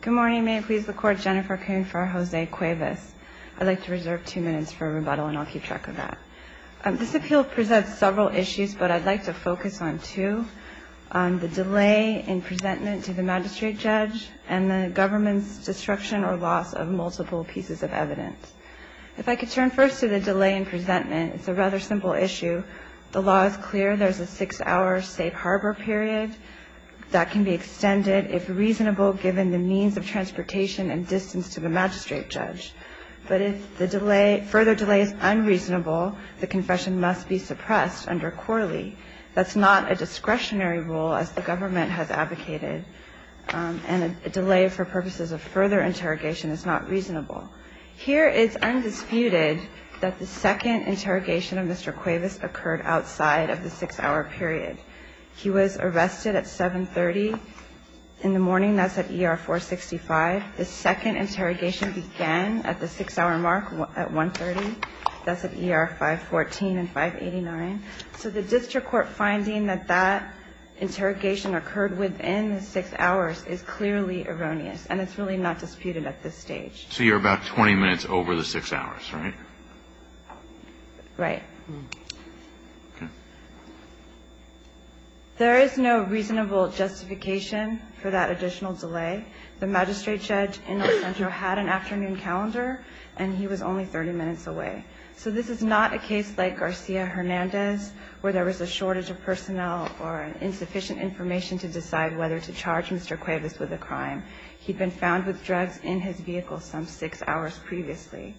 Good morning. May it please the Court, Jennifer Coon for Jose Cuevas. I'd like to reserve two minutes for rebuttal and I'll keep track of that. This appeal presents several issues, but I'd like to focus on two, the delay in presentment to the magistrate judge and the government's destruction or loss of multiple pieces of evidence. If I could turn first to the delay in presentment, it's a rather simple issue. The law is clear. There's a six-hour safe harbor period that can be extended, if reasonable, given the means of transportation and distance to the magistrate judge. But if the delay, further delay is unreasonable, the confession must be suppressed under Corley. That's not a discretionary rule, as the government has advocated, and a delay for purposes of further interrogation is not reasonable. Here it's undisputed that the second interrogation of Mr. Cuevas occurred outside of the six-hour period. He was arrested at 7.30 in the morning. That's at ER 465. The second interrogation began at the six-hour mark at 1.30. That's at ER 514 and 589. So the district court finding that that interrogation occurred within the six hours is clearly erroneous, and it's really not disputed at this stage. So you're about 20 minutes over the six hours, right? Right. There is no reasonable justification for that additional delay. The magistrate judge in El Centro had an afternoon calendar, and he was only 30 minutes away. So this is not a case like Garcia-Hernandez, where there was a shortage of personnel or insufficient information to decide whether to charge Mr. Cuevas with a crime. He'd been found with drugs in his vehicle some six hours previously.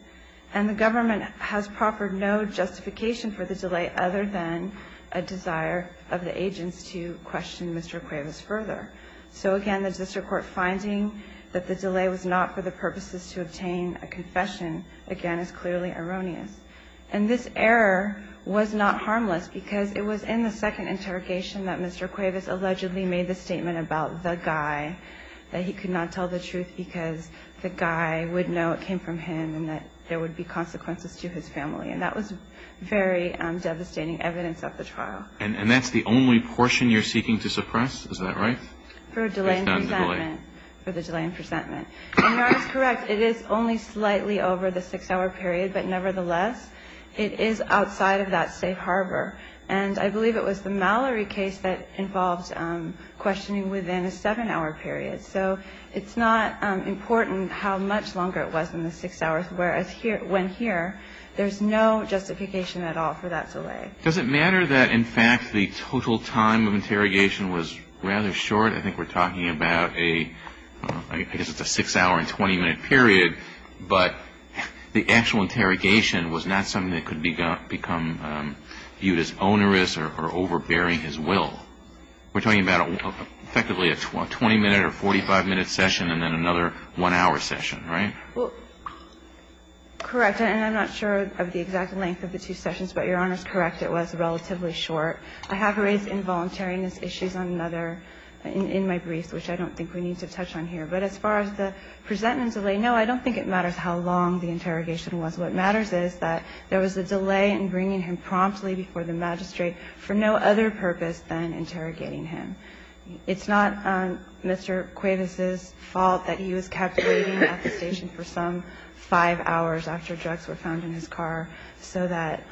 And the government has proffered no justification for the delay other than a desire of the agents to question Mr. Cuevas further. So, again, the district court finding that the delay was not for the purposes to obtain a confession, again, is clearly erroneous. And this error was not harmless because it was in the second interrogation that Mr. Cuevas allegedly made the statement about the guy, that he could not tell the truth because the guy would know it came from him and that there would be consequences to his family. And that was very devastating evidence at the trial. And that's the only portion you're seeking to suppress? Is that right? For delay and presentment. For the delay and presentment. And that is correct. It is only slightly over the six-hour period, but nevertheless, it is outside of that safe harbor. And I believe it was the Mallory case that involved questioning within a seven-hour period. So it's not important how much longer it was in the six hours, whereas when here, there's no justification at all for that delay. Does it matter that, in fact, the total time of interrogation was rather short? I think we're talking about a, I guess it's a six-hour and 20-minute period, but the actual interrogation was not something that could become viewed as onerous or overbearing his will. We're talking about effectively a 20-minute or 45-minute session and then another one-hour session, right? Well, correct. And I'm not sure of the exact length of the two sessions, but Your Honor is correct. It was relatively short. I have raised involuntariness issues on another, in my briefs, which I don't think we need to touch on here. But as far as the presentment delay, no, I don't think it matters how long the interrogation was. What matters is that there was a delay in bringing him promptly before the magistrate for no other purpose than interrogating him. It's not Mr. Cuevas's fault that he was kept waiting at the station for some five hours after drugs were found in his car so that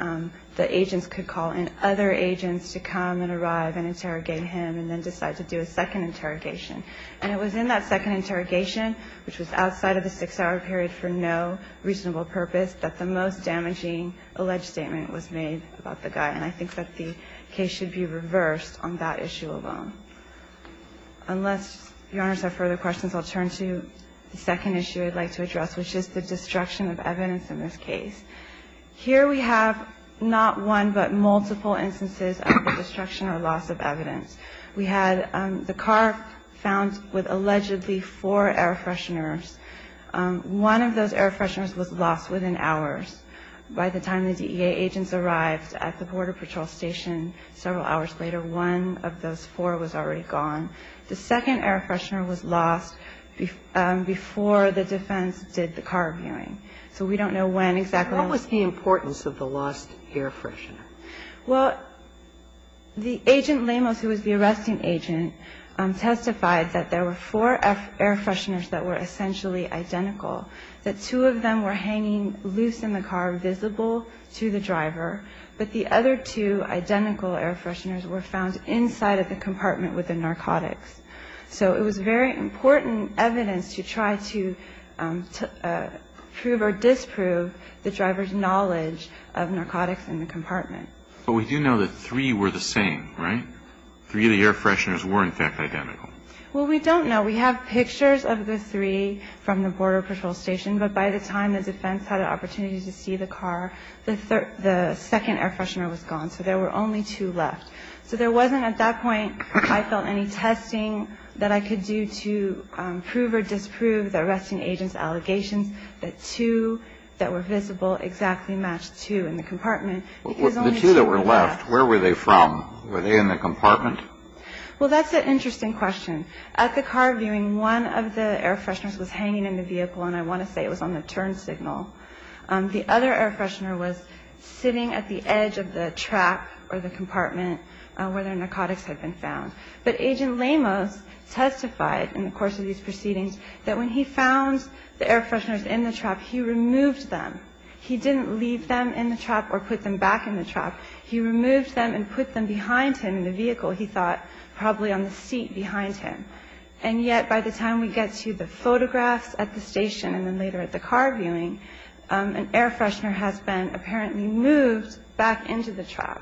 the agents could call in other agents to come and arrive and interrogate him and then decide to do a second interrogation. And it was in that second interrogation, which was outside of the six-hour period for no reasonable purpose, that the most damaging alleged statement was made about the guy. And I think that the case should be reversed on that issue alone. Unless Your Honors have further questions, I'll turn to the second issue I'd like to address, which is the destruction of evidence in this case. Here we have not one but multiple instances of the destruction or loss of evidence. We had the car found with allegedly four air fresheners. One of those air fresheners was lost within hours by the time the DEA agents arrived at the Border Patrol station several hours later. One of those four was already gone. The second air freshener was lost before the defense did the car viewing. So we don't know when exactly. What was the importance of the lost air freshener? Well, the agent Lemos, who was the arresting agent, testified that there were four air fresheners that were essentially identical, that two of them were hanging loose in the car, visible to the driver, but the other two identical air fresheners were found inside of the compartment with the narcotics. So it was very important evidence to try to prove or disprove the driver's knowledge of narcotics in the compartment. But we do know that three were the same, right? Three of the air fresheners were, in fact, identical. Well, we don't know. We have pictures of the three from the Border Patrol station. But by the time the defense had an opportunity to see the car, the second air freshener was gone. So there were only two left. So there wasn't, at that point, I felt, any testing that I could do to prove or disprove the arresting agent's allegations that two that were visible exactly matched two in the compartment. The two that were left, where were they from? Were they in the compartment? Well, that's an interesting question. At the car viewing, one of the air fresheners was hanging in the vehicle, and I want to say it was on the turn signal. The other air freshener was sitting at the edge of the trap or the compartment where the narcotics had been found. But Agent Lamos testified in the course of these proceedings that when he found the air fresheners in the trap, he removed them. He didn't leave them in the trap or put them back in the trap. He removed them and put them behind him in the vehicle, he thought, probably on the seat behind him. And yet by the time we get to the photographs at the station and then later at the car viewing, an air freshener has been apparently moved back into the trap.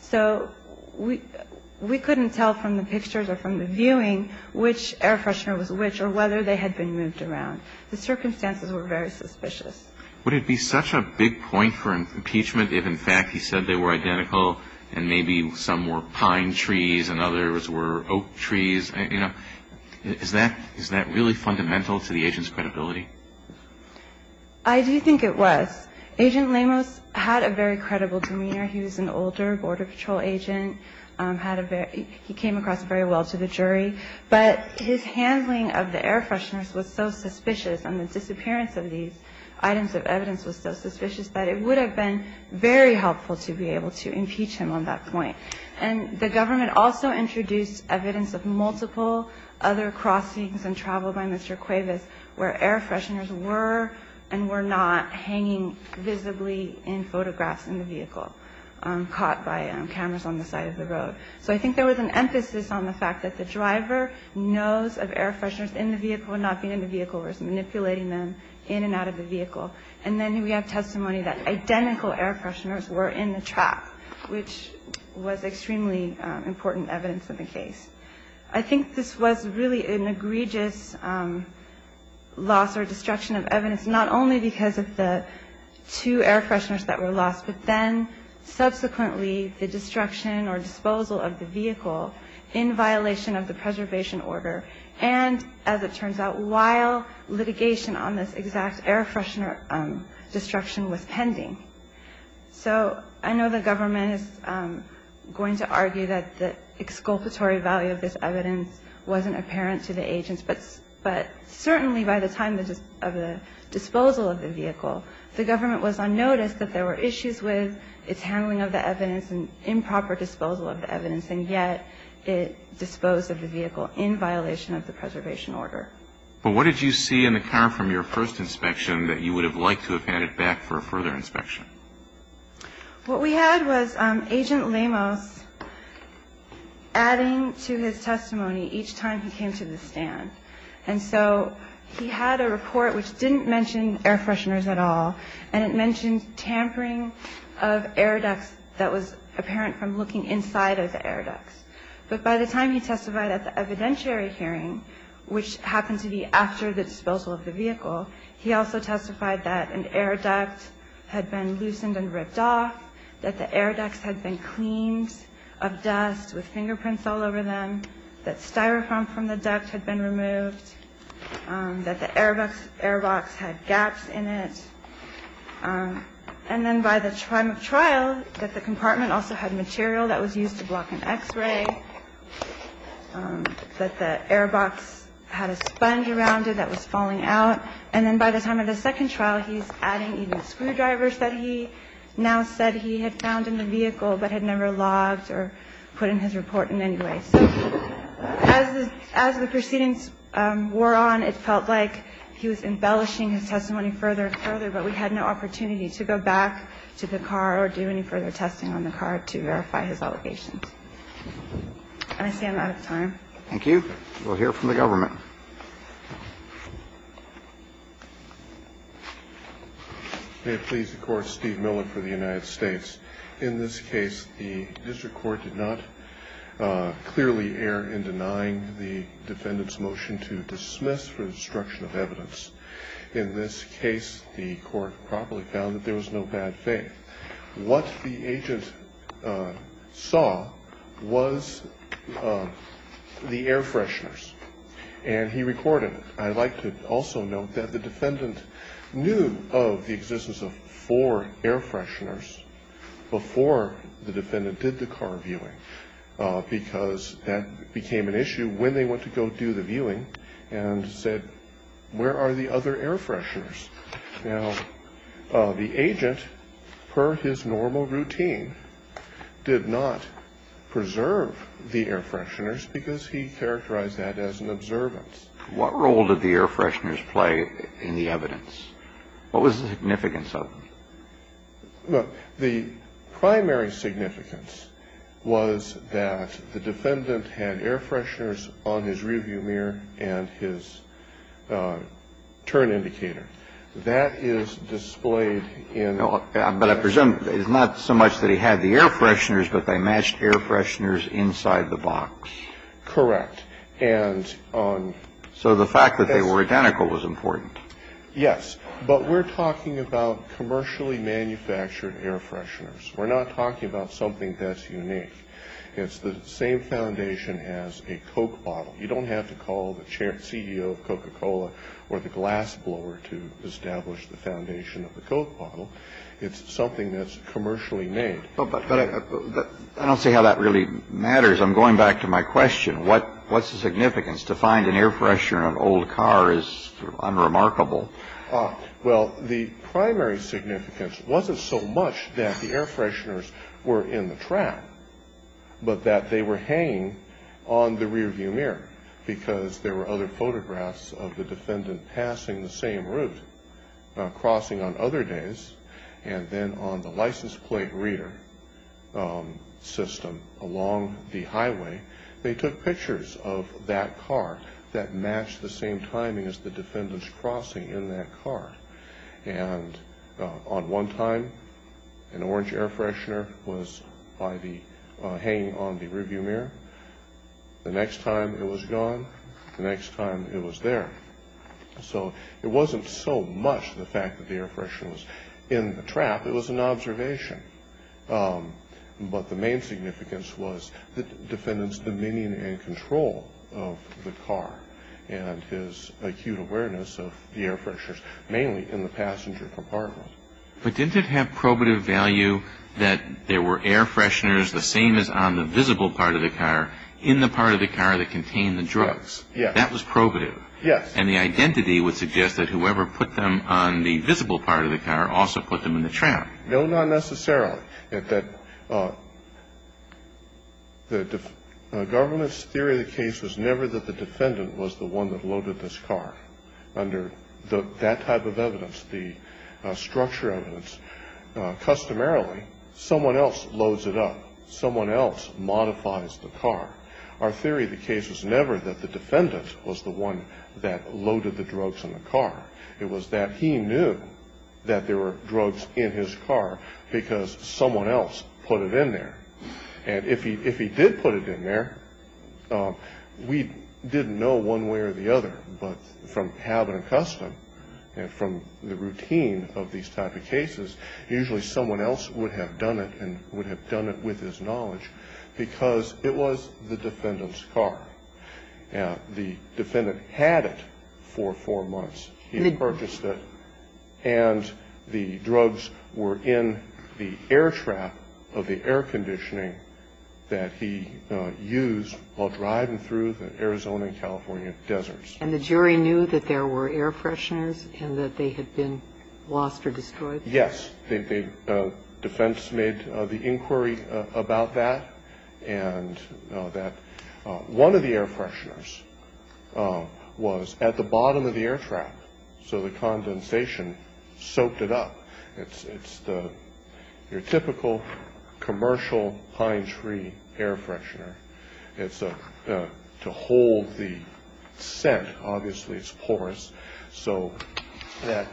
So we couldn't tell from the pictures or from the viewing which air freshener was which or whether they had been moved around. The circumstances were very suspicious. Would it be such a big point for impeachment if, in fact, he said they were identical and maybe some were pine trees and others were oak trees? You know, is that really fundamental to the agent's credibility? I do think it was. Agent Lamos had a very credible demeanor. He was an older Border Patrol agent. He came across very well to the jury. But his handling of the air fresheners was so suspicious and the disappearance of these items of evidence was so suspicious that it would have been very helpful to be able to impeach him on that point. And the government also introduced evidence of multiple other crossings and travel by Mr. Cuevas where air fresheners were and were not hanging visibly in photographs in the vehicle caught by cameras on the side of the road. So I think there was an emphasis on the fact that the driver knows of air fresheners in the vehicle and not being in the vehicle or is manipulating them in and out of the vehicle. And then we have testimony that identical air fresheners were in the truck, which was extremely important evidence in the case. I think this was really an egregious loss or destruction of evidence, not only because of the two air fresheners that were lost, but then subsequently the destruction or disposal of the vehicle in violation of the preservation order. And as it turns out, while litigation on this exact air freshener destruction was pending. So I know the government is going to argue that the exculpatory value of this evidence wasn't apparent to the agents, but certainly by the time of the disposal of the vehicle, the government was on notice that there were issues with its handling of the evidence and improper disposal of the evidence, and yet it disposed of the vehicle in violation of the preservation order. But what did you see in the car from your first inspection that you would have liked to have had it back for a further inspection? What we had was Agent Lemos adding to his testimony each time he came to the stand. And so he had a report which didn't mention air fresheners at all, and it mentioned tampering of air ducts that was apparent from looking inside of the air ducts. But by the time he testified at the evidentiary hearing, which happened to be after the disposal of the vehicle, he also testified that an air duct had been loosened and ripped off, that the air ducts had been cleaned of dust with fingerprints all over them, that styrofoam from the duct had been removed, that the air box had gaps in it. And then by the time of trial, that the compartment also had material that was used to block an X-ray, that the air box had a sponge around it that was falling out. And then by the time of the second trial, he's adding even screwdrivers that he now said he had found in the vehicle but had never logged or put in his report in any way. So as the proceedings wore on, we had no opportunity to go back to the car or do any further testing on the car to verify his allegations. And I say I'm out of time. Thank you. We'll hear from the government. May it please the Court. Steve Millen for the United States. In this case, the district court did not clearly err in denying the defendant's motion to dismiss for destruction of evidence. In this case, the court properly found that there was no bad faith. What the agent saw was the air fresheners. And he recorded it. I'd like to also note that the defendant knew of the existence of four air fresheners before the defendant did the car viewing, because that became an issue when they went to go do the viewing and said, where are the other air fresheners? Now, the agent, per his normal routine, did not preserve the air fresheners because he characterized that as an observance. What role did the air fresheners play in the evidence? What was the significance of them? The primary significance was that the defendant had air fresheners on his rearview mirror and his turn indicator. That is displayed in the box. But I presume it's not so much that he had the air fresheners, but they matched air fresheners inside the box. Correct. And on the box. So the fact that they were identical was important. Yes. But we're talking about commercially manufactured air fresheners. We're not talking about something that's unique. It's the same foundation as a Coke bottle. You don't have to call the CEO of Coca-Cola or the glassblower to establish the foundation of the Coke bottle. It's something that's commercially made. But I don't see how that really matters. I'm going back to my question. What's the significance? To find an air freshener in an old car is unremarkable. Well, the primary significance wasn't so much that the air fresheners were in the trap, but that they were hanging on the rearview mirror because there were other photographs of the defendant passing the same route, crossing on other days, they took pictures of that car that matched the same timing as the defendant's crossing in that car. And on one time, an orange air freshener was hanging on the rearview mirror. The next time, it was gone. The next time, it was there. So it wasn't so much the fact that the air freshener was in the trap. It was an observation. But the main significance was the defendant's dominion and control of the car and his acute awareness of the air fresheners, mainly in the passenger compartment. But didn't it have probative value that there were air fresheners, the same as on the visible part of the car, in the part of the car that contained the drugs? Yes. That was probative. Yes. And the identity would suggest that whoever put them on the visible part of the car also put them in the trap. No, not necessarily. The government's theory of the case was never that the defendant was the one that loaded this car. Under that type of evidence, the structure evidence, customarily, someone else loads it up. Someone else modifies the car. Our theory of the case was never that the defendant was the one that loaded the drugs in the car. It was that he knew that there were drugs in his car because someone else put it in there. And if he did put it in there, we didn't know one way or the other. But from habit and custom and from the routine of these type of cases, usually someone else would have done it and would have done it with his knowledge because it was the defendant's car. The defendant had it for four months. He had purchased it. And the drugs were in the air trap of the air conditioning that he used while driving through the Arizona and California deserts. And the jury knew that there were air fresheners and that they had been lost or destroyed? Yes. Defense made the inquiry about that and that one of the air fresheners was at the bottom of the air trap. So the condensation soaked it up. It's your typical commercial pine tree air freshener. It's to hold the scent. Obviously, it's porous. So that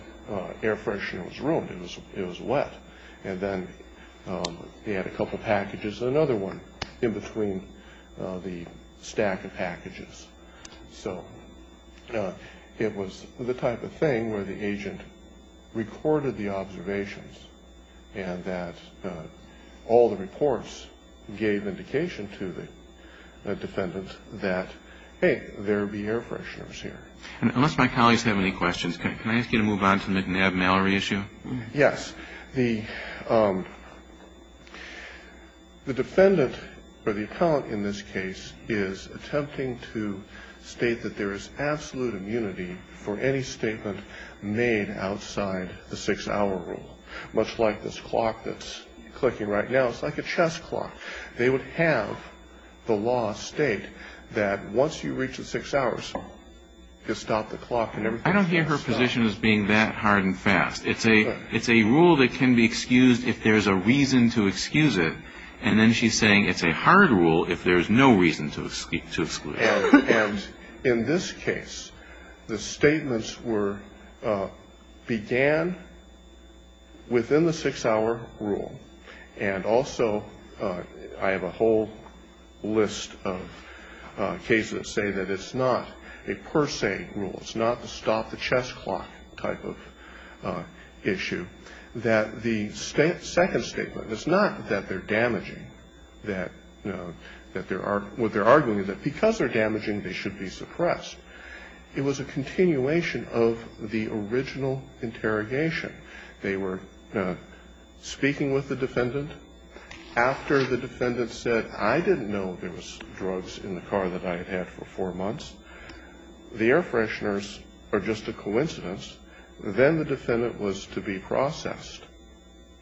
air freshener was ruined. It was wet. And then he had a couple packages, another one in between the stack of packages. So it was the type of thing where the agent recorded the observations and that all the reports gave indication to the defendant that, hey, there would be air fresheners here. Unless my colleagues have any questions, can I ask you to move on to the McNabb-Mallory issue? Yes. The defendant or the appellant in this case is attempting to state that there is absolute immunity for any statement made outside the six-hour rule, much like this clock that's clicking right now. It's like a chess clock. They would have the law state that once you reach the six hours, you stop the clock. I don't hear her position as being that hard and fast. It's a rule that can be excused if there's a reason to excuse it. And then she's saying it's a hard rule if there's no reason to exclude it. And in this case, the statements began within the six-hour rule. And also I have a whole list of cases that say that it's not a per se rule. It's not a stop the chess clock type of issue. That the second statement, it's not that they're damaging. What they're arguing is that because they're damaging, they should be suppressed. It was a continuation of the original interrogation. They were speaking with the defendant. After the defendant said, I didn't know there was drugs in the car that I had had for four months. The air fresheners are just a coincidence. Then the defendant was to be processed.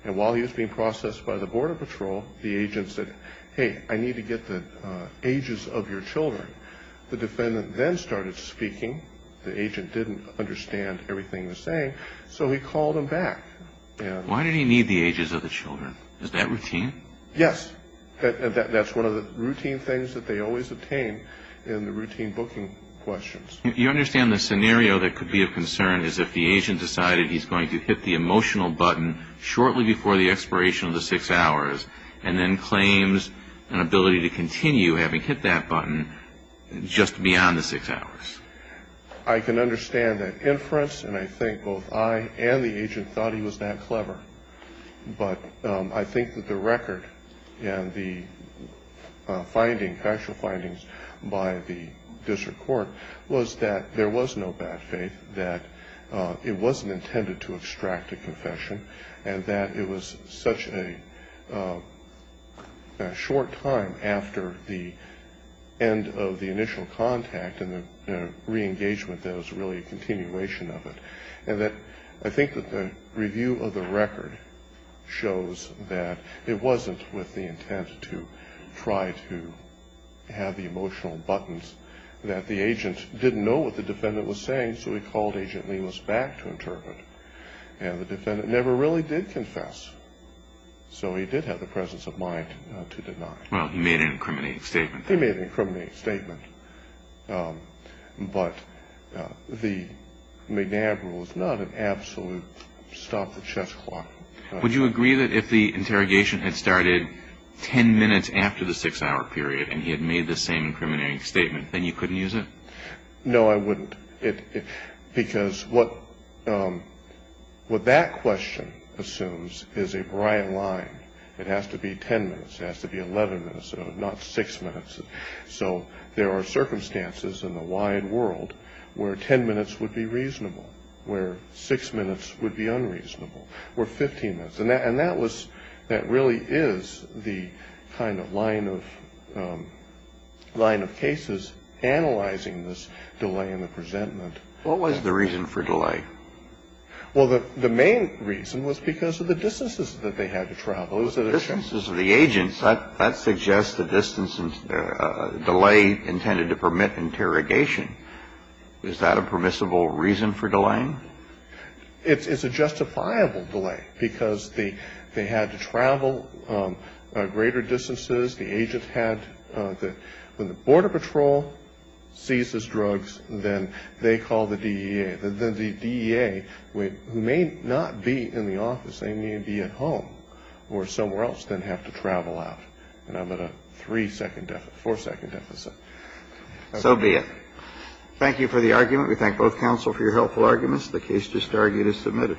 And while he was being processed by the border patrol, the agent said, hey, I need to get the ages of your children. The defendant then started speaking. The agent didn't understand everything he was saying. So he called him back. Why did he need the ages of the children? Is that routine? Yes. That's one of the routine things that they always obtain in the routine booking questions. You understand the scenario that could be of concern is if the agent decided he's going to hit the emotional button shortly before the expiration of the six hours. And then claims an ability to continue having hit that button just beyond the six hours. I can understand that inference. And I think both I and the agent thought he was that clever. But I think that the record and the finding, actual findings by the district court was that there was no bad faith, that it wasn't intended to extract a confession, and that it was such a short time after the end of the initial contact and the reengagement that it was really a continuation of it. And that I think that the review of the record shows that it wasn't with the intent to try to have the emotional buttons, that the agent didn't know what the defendant was saying, so he called Agent Lewis back to interpret. And the defendant never really did confess. So he did have the presence of mind to deny. Well, he made an incriminating statement. He made an incriminating statement. But the McNab rule is not an absolute stop the chess clock. Would you agree that if the interrogation had started ten minutes after the six-hour period and he had made the same incriminating statement, then you couldn't use it? No, I wouldn't. Because what that question assumes is a bright line. It has to be ten minutes. It has to be 11 minutes, not six minutes. So there are circumstances in the wide world where ten minutes would be reasonable, where six minutes would be unreasonable, or 15 minutes. And that really is the kind of line of cases analyzing this delay in the presentment. What was the reason for delay? Well, the main reason was because of the distances that they had to travel. The distances of the agents, that suggests a delay intended to permit interrogation. Is that a permissible reason for delaying? It's a justifiable delay, because they had to travel greater distances. The agents had to. When the Border Patrol seizes drugs, then they call the DEA. The DEA, who may not be in the office, they may be at home or somewhere else, then have to travel out. And I'm at a three-second deficit, four-second deficit. So be it. Thank you for the argument. We thank both counsel for your helpful arguments. The case to start is submitted.